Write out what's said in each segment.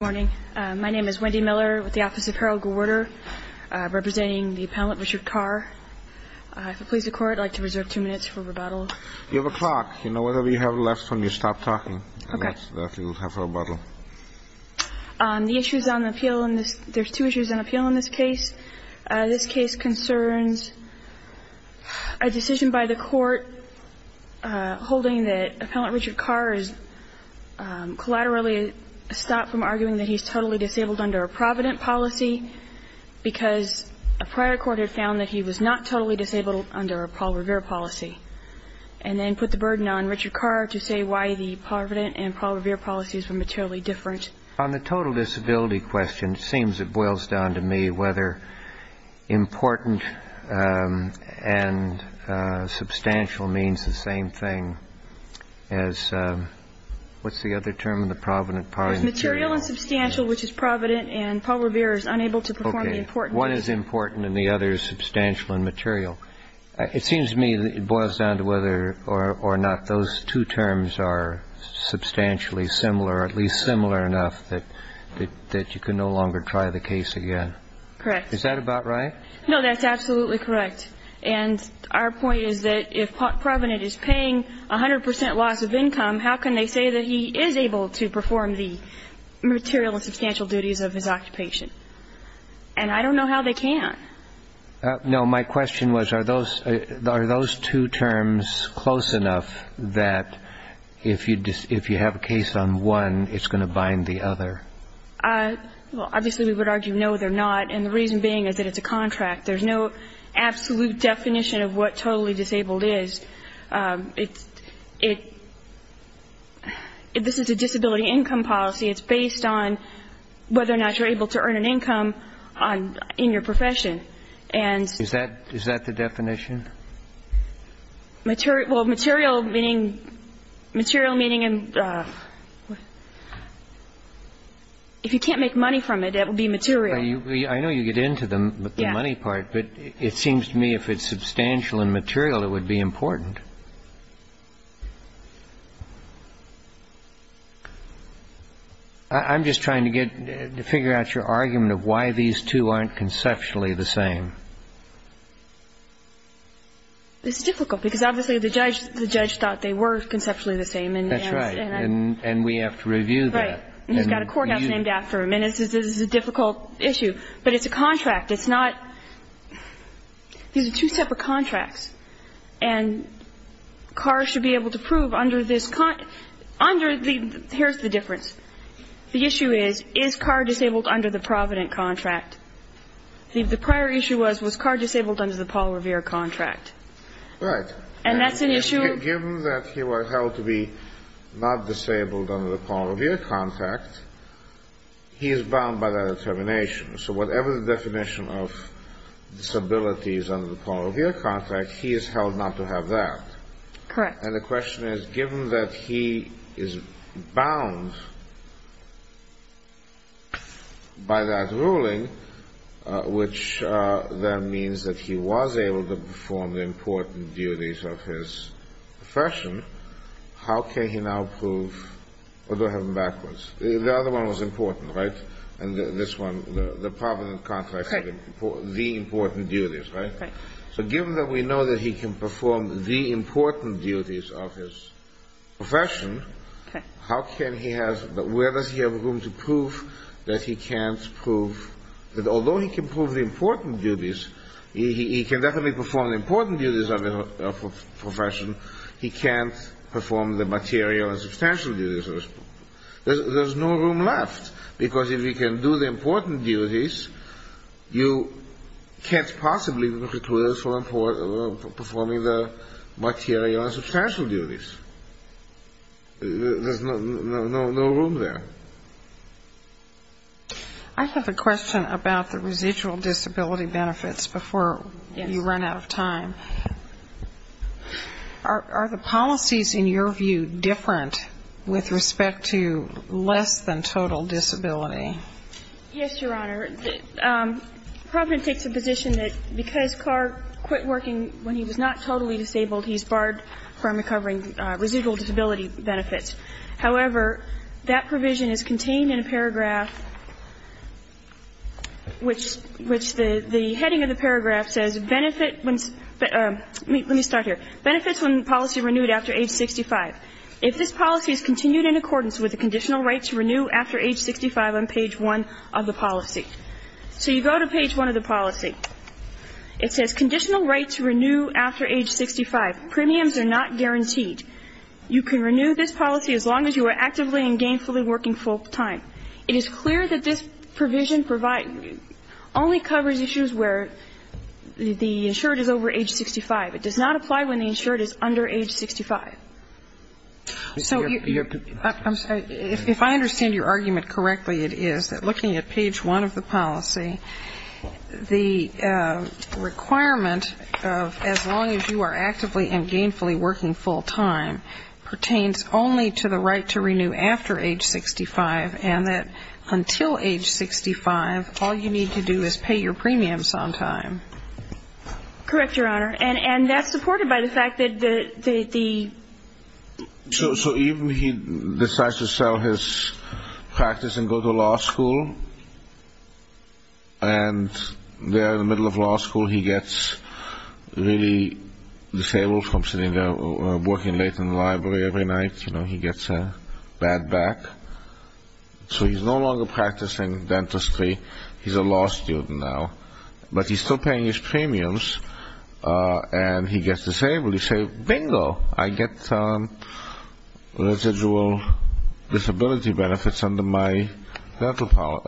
Good morning. My name is Wendy Miller with the Office of Parole Rewarder, representing the Appellant Richard Carr. If it pleases the Court, I'd like to reserve two minutes for rebuttal. You have a clock. You know, whatever you have left when you stop talking. Okay. Then you'll have a rebuttal. The issues on the appeal in this – there's two issues on appeal in this case. This case concerns a decision by the Court holding that Appellant Richard Carr has collaterally stopped from arguing that he's totally disabled under a Provident policy because a prior Court had found that he was not totally disabled under a Paul Revere policy and then put the burden on Richard Carr to say why the Provident and Paul Revere policies were materially different. On the total disability question, it seems it boils down to me whether important and substantial means the same thing as – what's the other term in the Provident policy? Material and substantial, which is Provident, and Paul Revere is unable to perform the important. Okay. What is important and the other is substantial and material? It seems to me it boils down to whether or not those two terms are substantially similar, at least similar enough that you can no longer try the case again. Correct. Is that about right? No, that's absolutely correct. And our point is that if Provident is paying 100 percent loss of income, how can they say that he is able to perform the material and substantial duties of his occupation? And I don't know how they can. No, my question was are those two terms close enough that if you have a case on one, it's going to bind the other? Well, obviously we would argue no, they're not, and the reason being is that it's a contract. There's no absolute definition of what totally disabled is. It's based on whether or not you're able to earn an income in your profession. Is that the definition? Well, material meaning if you can't make money from it, it will be material. I know you get into the money part, but it seems to me if it's substantial and material, it would be important. I'm just trying to get to figure out your argument of why these two aren't conceptually the same. It's difficult because obviously the judge thought they were conceptually the same. That's right. And we have to review that. Right. And he's got a courthouse named after him. And this is a difficult issue. But it's a contract. It's not these are two separate contracts. And CAR should be able to prove under this, here's the difference. The issue is, is CAR disabled under the Provident contract? The prior issue was, was CAR disabled under the Paul Revere contract? Right. And that's an issue. Given that he was held to be not disabled under the Paul Revere contract, he is bound by that determination. So whatever the definition of disability is under the Paul Revere contract, he is held not to have that. Correct. And the question is, given that he is bound by that ruling, which then means that he was able to perform the important duties of his profession, how can he now prove, or do I have them backwards? The other one was important, right? And this one, the Provident contract, the important duties, right? Right. So given that we know that he can perform the important duties of his profession, how can he have, where does he have room to prove that he can't prove, that although he can prove the important duties, he can definitely perform the important duties of his profession, he can't perform the material and substantial duties. There's no room left, because if he can do the important duties, you can't possibly recruit him for performing the material and substantial duties. There's no room there. I have a question about the residual disability benefits before you run out of time. Are the policies, in your view, different with respect to less than total disability? Yes, Your Honor. Provident takes a position that because Carr quit working when he was not totally disabled, he's barred from recovering residual disability benefits. However, that provision is contained in a paragraph which the heading of the paragraph says, benefits when policy renewed after age 65. If this policy is continued in accordance with the conditional right to renew after age 65 on page 1 of the policy. So you go to page 1 of the policy. It says conditional right to renew after age 65. Premiums are not guaranteed. You can renew this policy as long as you are actively and gainfully working full time. It is clear that this provision only covers issues where the insured is over age 65. It does not apply when the insured is under age 65. So if I understand your argument correctly, it is that looking at page 1 of the policy, the requirement of as long as you are actively and gainfully working full time pertains only to the right to renew after age 65 and that until age 65, all you need to do is pay your premiums on time. Correct, Your Honor. And that's supported by the fact that the... So even he decides to sell his practice and go to law school, and there in the middle of law school he gets really disabled from sitting there or working late in the library every night. You know, he gets a bad back. So he's no longer practicing dentistry. He's a law student now. But he's still paying his premiums and he gets disabled. Bingo, I get residual disability benefits under my insurance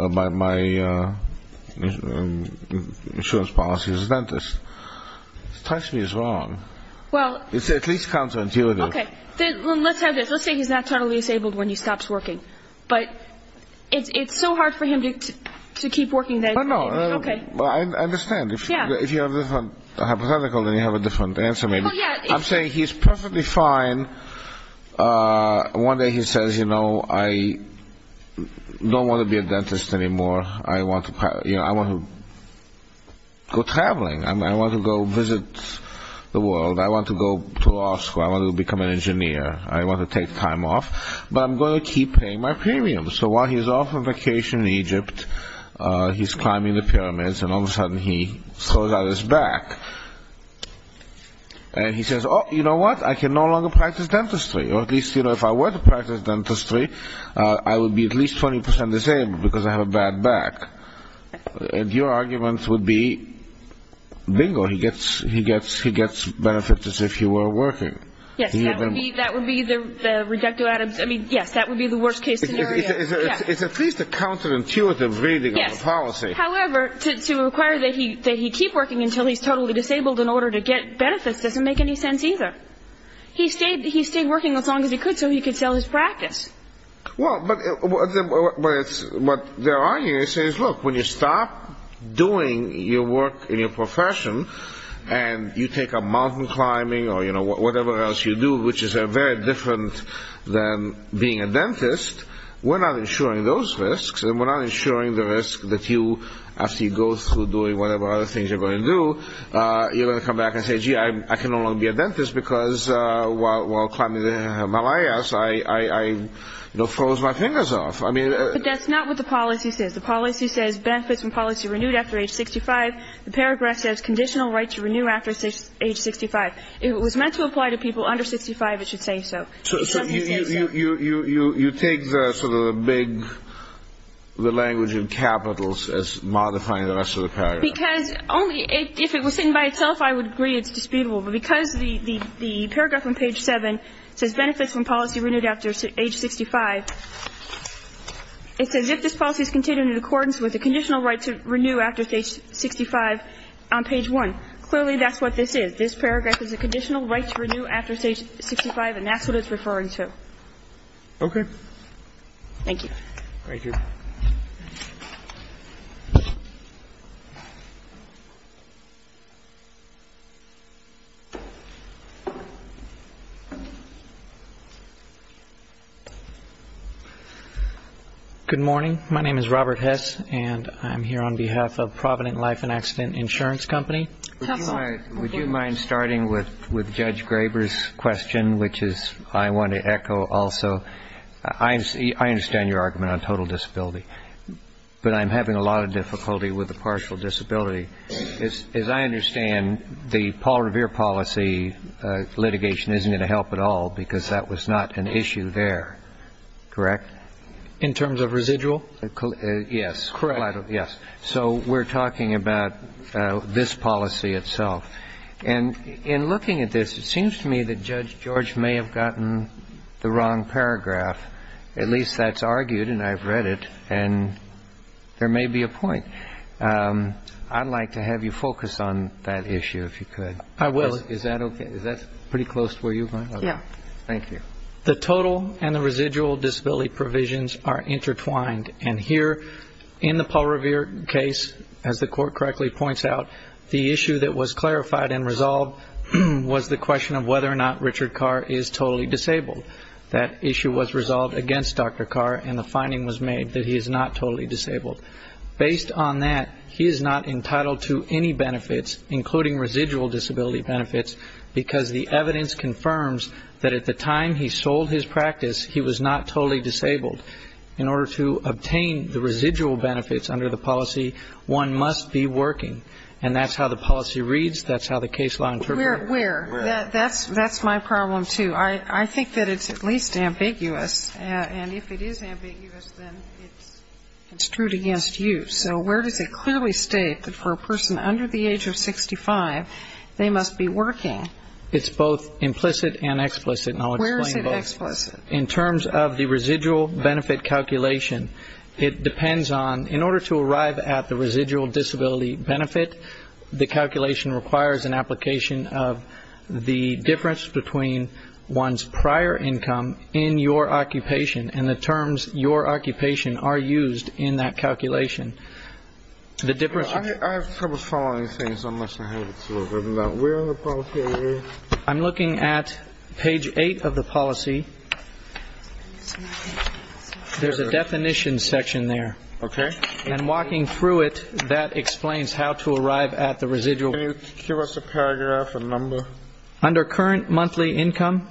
policy as a dentist. It strikes me as wrong. It's at least counterintuitive. Okay, let's have this. Let's say he's naturally disabled when he stops working. But it's so hard for him to keep working. I understand. If you have a different hypothetical, then you have a different answer maybe. I'm saying he's perfectly fine. One day he says, you know, I don't want to be a dentist anymore. I want to go traveling. I want to go visit the world. I want to go to law school. I want to become an engineer. I want to take time off. But I'm going to keep paying my premiums. So while he's off on vacation in Egypt, he's climbing the pyramids, and all of a sudden he throws out his back. And he says, oh, you know what? I can no longer practice dentistry. Or at least, you know, if I were to practice dentistry, I would be at least 20% disabled because I have a bad back. And your argument would be, bingo, he gets benefits as if he were working. Yes, that would be the rejecto adams. I mean, yes, that would be the worst case scenario. It's at least a counterintuitive reading of the policy. However, to require that he keep working until he's totally disabled in order to get benefits doesn't make any sense either. He stayed working as long as he could so he could sell his practice. Well, but what they're arguing is, look, when you stop doing your work in your profession and you take up mountain climbing or, you know, whatever else you do, which is very different than being a dentist, we're not insuring those risks and we're not insuring the risk that you, after you go through doing whatever other things you're going to do, you're going to come back and say, gee, I can no longer be a dentist because while climbing the Himalayas I, you know, froze my fingers off. But that's not what the policy says. The policy says benefits from policy renewed after age 65. The paragraph says conditional right to renew after age 65. If it was meant to apply to people under 65, it should say so. It doesn't say so. So you take the sort of the big, the language of capitals as modifying the rest of the paragraph. Because only if it was written by itself, I would agree it's disputable. But because the paragraph on page 7 says benefits from policy renewed after age 65, it says if this policy is contained in accordance with the conditional right to renew after age 65 on page 1, clearly that's what this is. This paragraph is a conditional right to renew after age 65, and that's what it's referring to. Okay. Thank you. Thank you. Good morning. My name is Robert Hess, and I'm here on behalf of Provident Life and Accident Insurance Company. Would you mind starting with Judge Graber's question, which is I want to echo also. I understand your argument on total disability, but I'm having a lot of difficulty with a partial disability. As I understand, the Paul Revere policy litigation isn't going to help at all because that was not an issue there, correct? In terms of residual? Yes. Correct. So we're talking about this policy itself. And in looking at this, it seems to me that Judge George may have gotten the wrong paragraph. At least that's argued, and I've read it, and there may be a point. I'd like to have you focus on that issue, if you could. I will. Is that okay? Is that pretty close to where you're going? Yes. Thank you. The total and the residual disability provisions are intertwined. And here in the Paul Revere case, as the Court correctly points out, the issue that was clarified and resolved was the question of whether or not Richard Carr is totally disabled. That issue was resolved against Dr. Carr, and the finding was made that he is not totally disabled. Based on that, he is not entitled to any benefits, including residual disability benefits, because the evidence confirms that at the time he sold his practice, he was not totally disabled. In order to obtain the residual benefits under the policy, one must be working. And that's how the policy reads. That's how the case law interprets it. Where? That's my problem, too. I think that it's at least ambiguous, and if it is ambiguous, then it's true against you. So where does it clearly state that for a person under the age of 65, they must be working? It's both implicit and explicit, and I'll explain both. Where is it explicit? In terms of the residual benefit calculation, it depends on, in order to arrive at the residual disability benefit, the calculation requires an application of the difference between one's prior income in your occupation and the terms your occupation are used in that calculation. I have trouble following things unless I have it. I'm looking at page 8 of the policy. There's a definition section there. Okay. And walking through it, that explains how to arrive at the residual. Can you give us a paragraph, a number? Under current monthly income?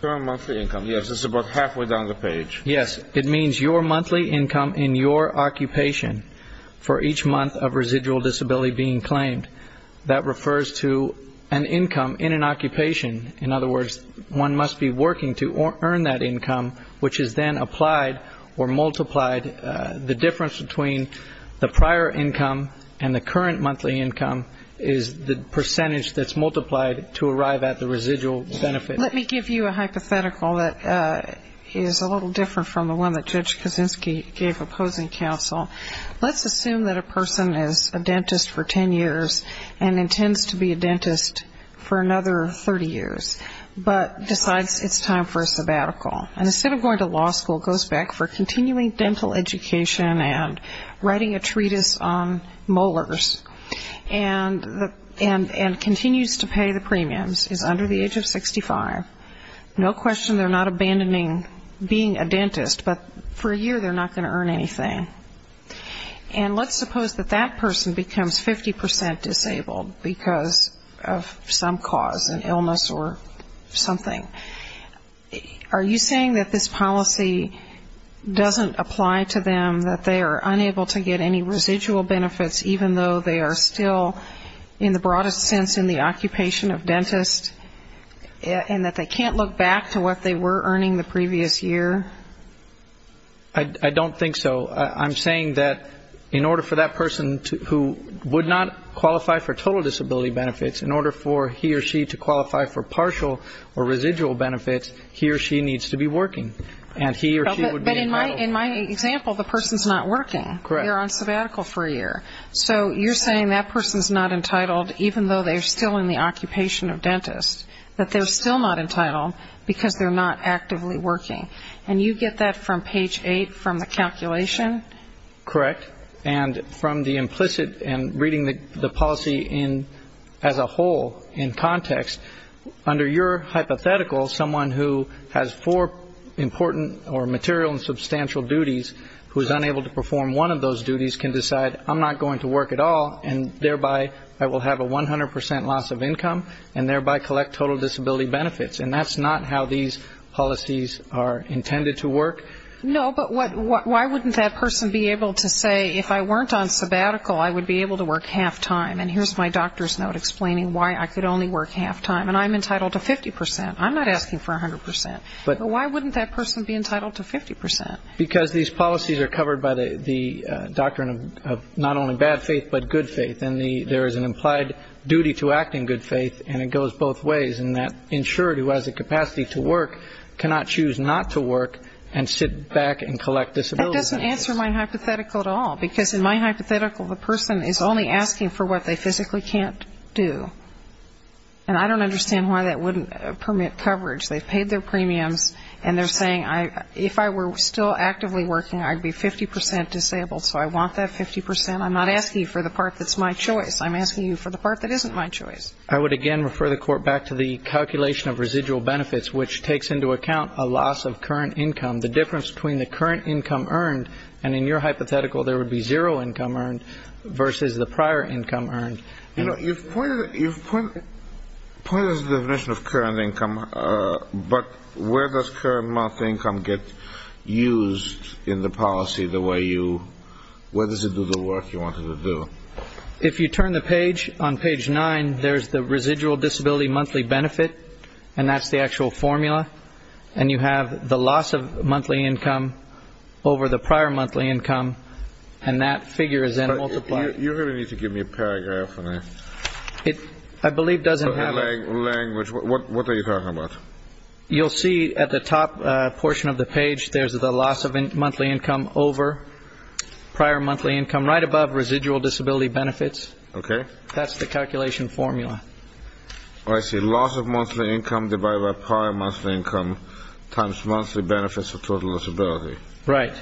Current monthly income, yes. It's about halfway down the page. Yes. It means your monthly income in your occupation for each month of residual disability being claimed. That refers to an income in an occupation. In other words, one must be working to earn that income, which is then applied or multiplied. The difference between the prior income and the current monthly income is the percentage that's multiplied to arrive at the residual benefit. Let me give you a hypothetical that is a little different from the one that Judge Kaczynski gave opposing counsel. Let's assume that a person is a dentist for 10 years and intends to be a dentist for another 30 years, but decides it's time for a sabbatical. And instead of going to law school, goes back for continuing dental education and writing a treatise on molars and continues to pay the premiums, is under the age of 65. No question they're not abandoning being a dentist, but for a year they're not going to earn anything. And let's suppose that that person becomes 50% disabled because of some cause, an illness or something. Are you saying that this policy doesn't apply to them, that they are unable to get any residual benefits, even though they are still, in the broadest sense, in the occupation of dentists, and that they can't look back to what they were earning the previous year? I don't think so. I'm saying that in order for that person who would not qualify for total disability benefits, in order for he or she to qualify for partial or residual benefits, he or she needs to be working. And he or she would be entitled. But in my example, the person's not working. Correct. They're on sabbatical for a year. So you're saying that person's not entitled, even though they're still in the occupation of dentists, that they're still not entitled because they're not actively working. And you get that from page 8 from the calculation? Correct. And from the implicit and reading the policy as a whole in context, under your hypothetical, someone who has four important or material and substantial duties, who is unable to perform one of those duties can decide, I'm not going to work at all, and thereby I will have a 100% loss of income, and thereby collect total disability benefits. And that's not how these policies are intended to work? No, but why wouldn't that person be able to say, if I weren't on sabbatical, I would be able to work half-time, and here's my doctor's note explaining why I could only work half-time, and I'm entitled to 50%. I'm not asking for 100%. Why wouldn't that person be entitled to 50%? Because these policies are covered by the doctrine of not only bad faith, but good faith. And there is an implied duty to act in good faith, and it goes both ways, and that insured who has the capacity to work cannot choose not to work and sit back and collect disability benefits. That doesn't answer my hypothetical at all, because in my hypothetical the person is only asking for what they physically can't do. And I don't understand why that wouldn't permit coverage. They've paid their premiums, and they're saying, if I were still actively working, I'd be 50% disabled, so I want that 50%. I'm not asking you for the part that's my choice. I'm asking you for the part that isn't my choice. I would again refer the Court back to the calculation of residual benefits, which takes into account a loss of current income, the difference between the current income earned, and in your hypothetical there would be zero income earned versus the prior income earned. You know, you've pointed to the definition of current income, but where does current monthly income get used in the policy the way you – where does it do the work you want it to do? If you turn the page, on page 9 there's the residual disability monthly benefit, and that's the actual formula. And you have the loss of monthly income over the prior monthly income, and that figure is then multiplied. You're going to need to give me a paragraph on that. I believe it doesn't have – Language. What are you talking about? You'll see at the top portion of the page there's the loss of monthly income over prior monthly income, and from right above, residual disability benefits. Okay. That's the calculation formula. Oh, I see. Loss of monthly income divided by prior monthly income times monthly benefits of total disability. Right.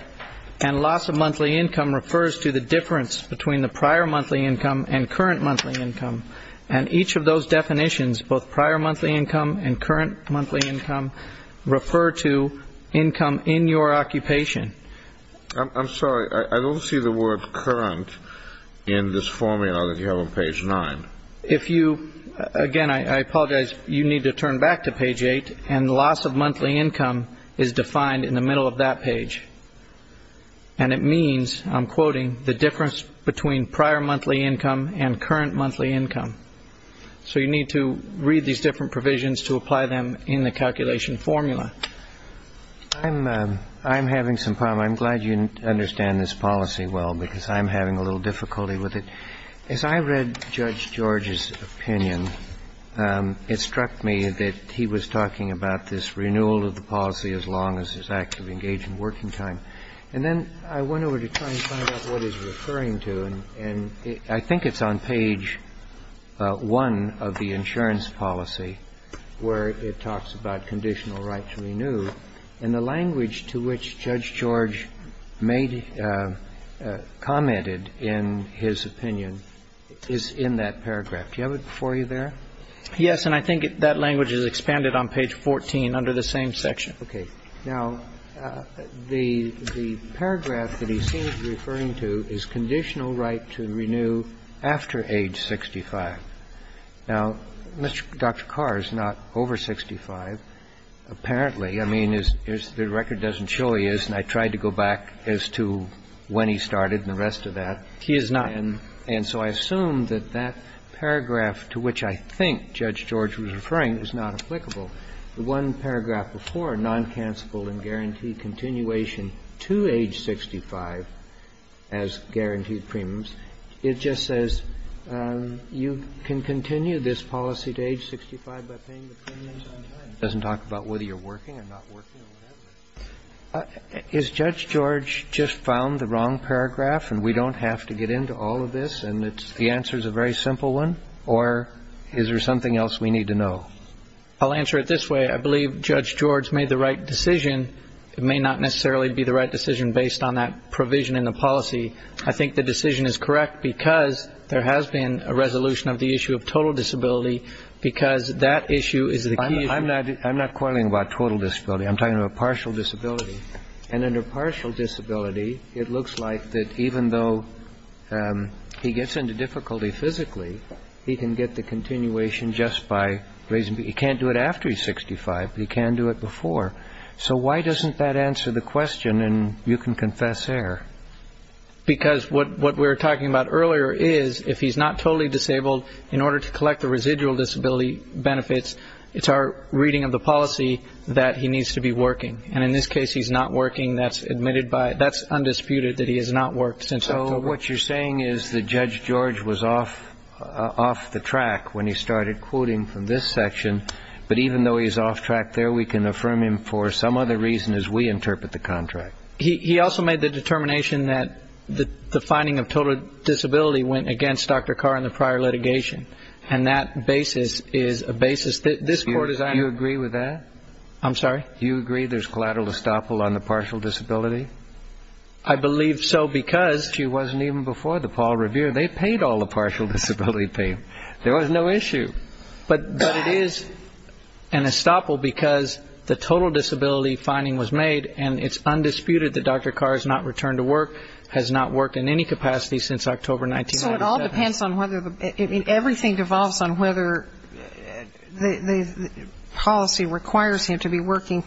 And loss of monthly income refers to the difference between the prior monthly income and current monthly income, and each of those definitions, both prior monthly income and current monthly income, refer to income in your occupation. I'm sorry. I don't see the word current in this formula that you have on page 9. If you – again, I apologize. You need to turn back to page 8, and loss of monthly income is defined in the middle of that page, and it means, I'm quoting, the difference between prior monthly income and current monthly income. So you need to read these different provisions to apply them in the calculation formula. I'm having some problems. I'm glad you understand this policy well because I'm having a little difficulty with it. As I read Judge George's opinion, it struck me that he was talking about this renewal of the policy as long as it's actively engaged in working time. And then I went over to try and find out what he's referring to, and I think it's on page 1 of the insurance policy where it talks about conditional right to renew. And the language to which Judge George made – commented in his opinion is in that paragraph. Do you have it before you there? Yes, and I think that language is expanded on page 14 under the same section. Okay. Now, the paragraph that he seems referring to is conditional right to renew after age 65. Now, Dr. Carr is not over 65. Apparently. I mean, the record doesn't show he is, and I tried to go back as to when he started and the rest of that. He is not. And so I assume that that paragraph to which I think Judge George was referring is not applicable. The one paragraph before, non-cancellable and guaranteed continuation to age 65 as guaranteed premiums, it just says you can continue this policy to age 65 by paying the premiums on time. It doesn't talk about whether you're working or not working or whatever. Is Judge George just found the wrong paragraph and we don't have to get into all of this and the answer is a very simple one, or is there something else we need to know? I'll answer it this way. I believe Judge George made the right decision. It may not necessarily be the right decision based on that provision in the policy. I think the decision is correct because there has been a resolution of the issue of total disability because that issue is the key. I'm not quarreling about total disability. I'm talking about partial disability. And under partial disability, it looks like that even though he gets into difficulty physically, he can get the continuation just by raising, he can't do it after he's 65, but he can do it before. So why doesn't that answer the question and you can confess there? Because what we were talking about earlier is if he's not totally disabled, in order to collect the residual disability benefits, it's our reading of the policy that he needs to be working. And in this case, he's not working. That's admitted by, that's undisputed that he has not worked since October. But what you're saying is that Judge George was off the track when he started quoting from this section. But even though he's off track there, we can affirm him for some other reason as we interpret the contract. He also made the determination that the finding of total disability went against Dr. Carr in the prior litigation. And that basis is a basis that this court is on. Do you agree with that? I'm sorry? Do you agree there's collateral estoppel on the partial disability? I believe so because she wasn't even before the Paul Revere. They paid all the partial disability pay. There was no issue. But it is an estoppel because the total disability finding was made and it's undisputed that Dr. Carr has not returned to work, has not worked in any capacity since October 1997. So it all depends on whether the, I mean, everything devolves on whether the policy requires him to be working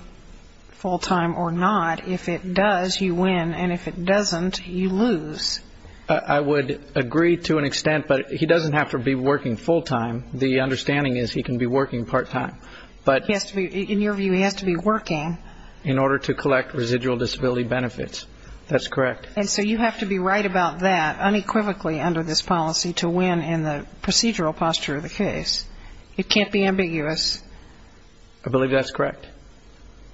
full-time or not. If it does, you win. And if it doesn't, you lose. I would agree to an extent, but he doesn't have to be working full-time. The understanding is he can be working part-time. But he has to be, in your view, he has to be working. In order to collect residual disability benefits. That's correct. And so you have to be right about that unequivocally under this policy to win in the procedural posture of the case. It can't be ambiguous. I believe that's correct.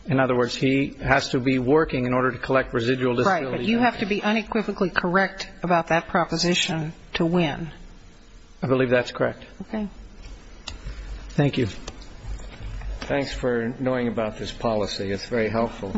In other words, he has to be working in order to collect residual disability benefits. Right. But you have to be unequivocally correct about that proposition to win. I believe that's correct. Okay. Thank you. Thanks for knowing about this policy. It's very helpful.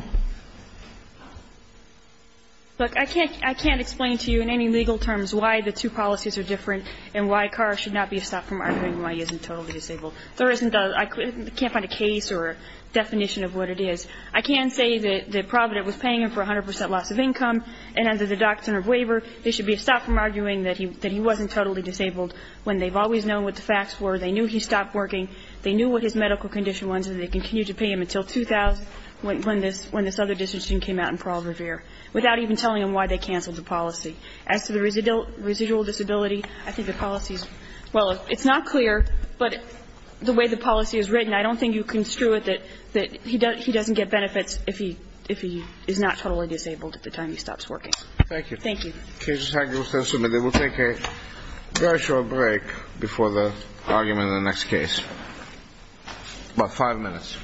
Look, I can't explain to you in any legal terms why the two policies are different and why Carr should not be stopped from arguing why he isn't totally disabled. There isn't a, I can't find a case or a definition of what it is. I can say that Provident was paying him for 100 percent loss of income, and under the doctrine of waiver, there should be a stop from arguing that he wasn't totally disabled when they've always known what the facts were, they knew he stopped working, they knew what his medical condition was, and they continued to pay him until 2000, when this other decision came out in Parole Revere, without even telling him why they canceled the policy. As to the residual disability, I think the policy is, well, it's not clear, but the way the policy is written, I don't think you can screw it that he doesn't get benefits if he is not totally disabled at the time he stops working. Thank you. Thank you. They will take a very short break before the argument in the next case. About five minutes.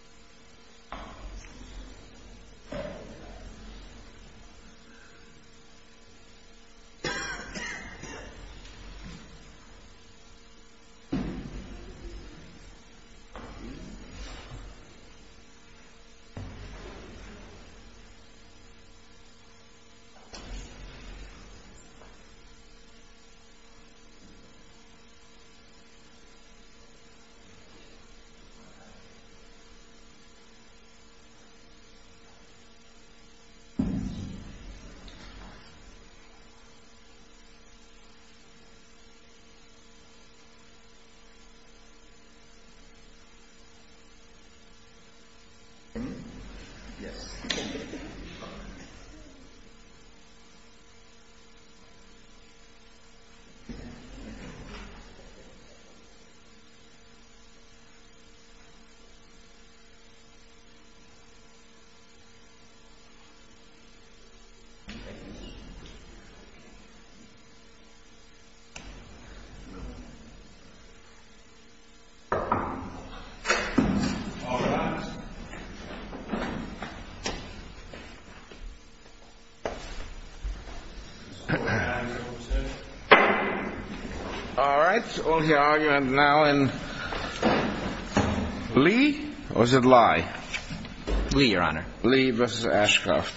Thank you. Thank you. Thank you. Thank you. Thank you. Thank you. Thank you. Thank you. Thank you. Thank you. Thank you.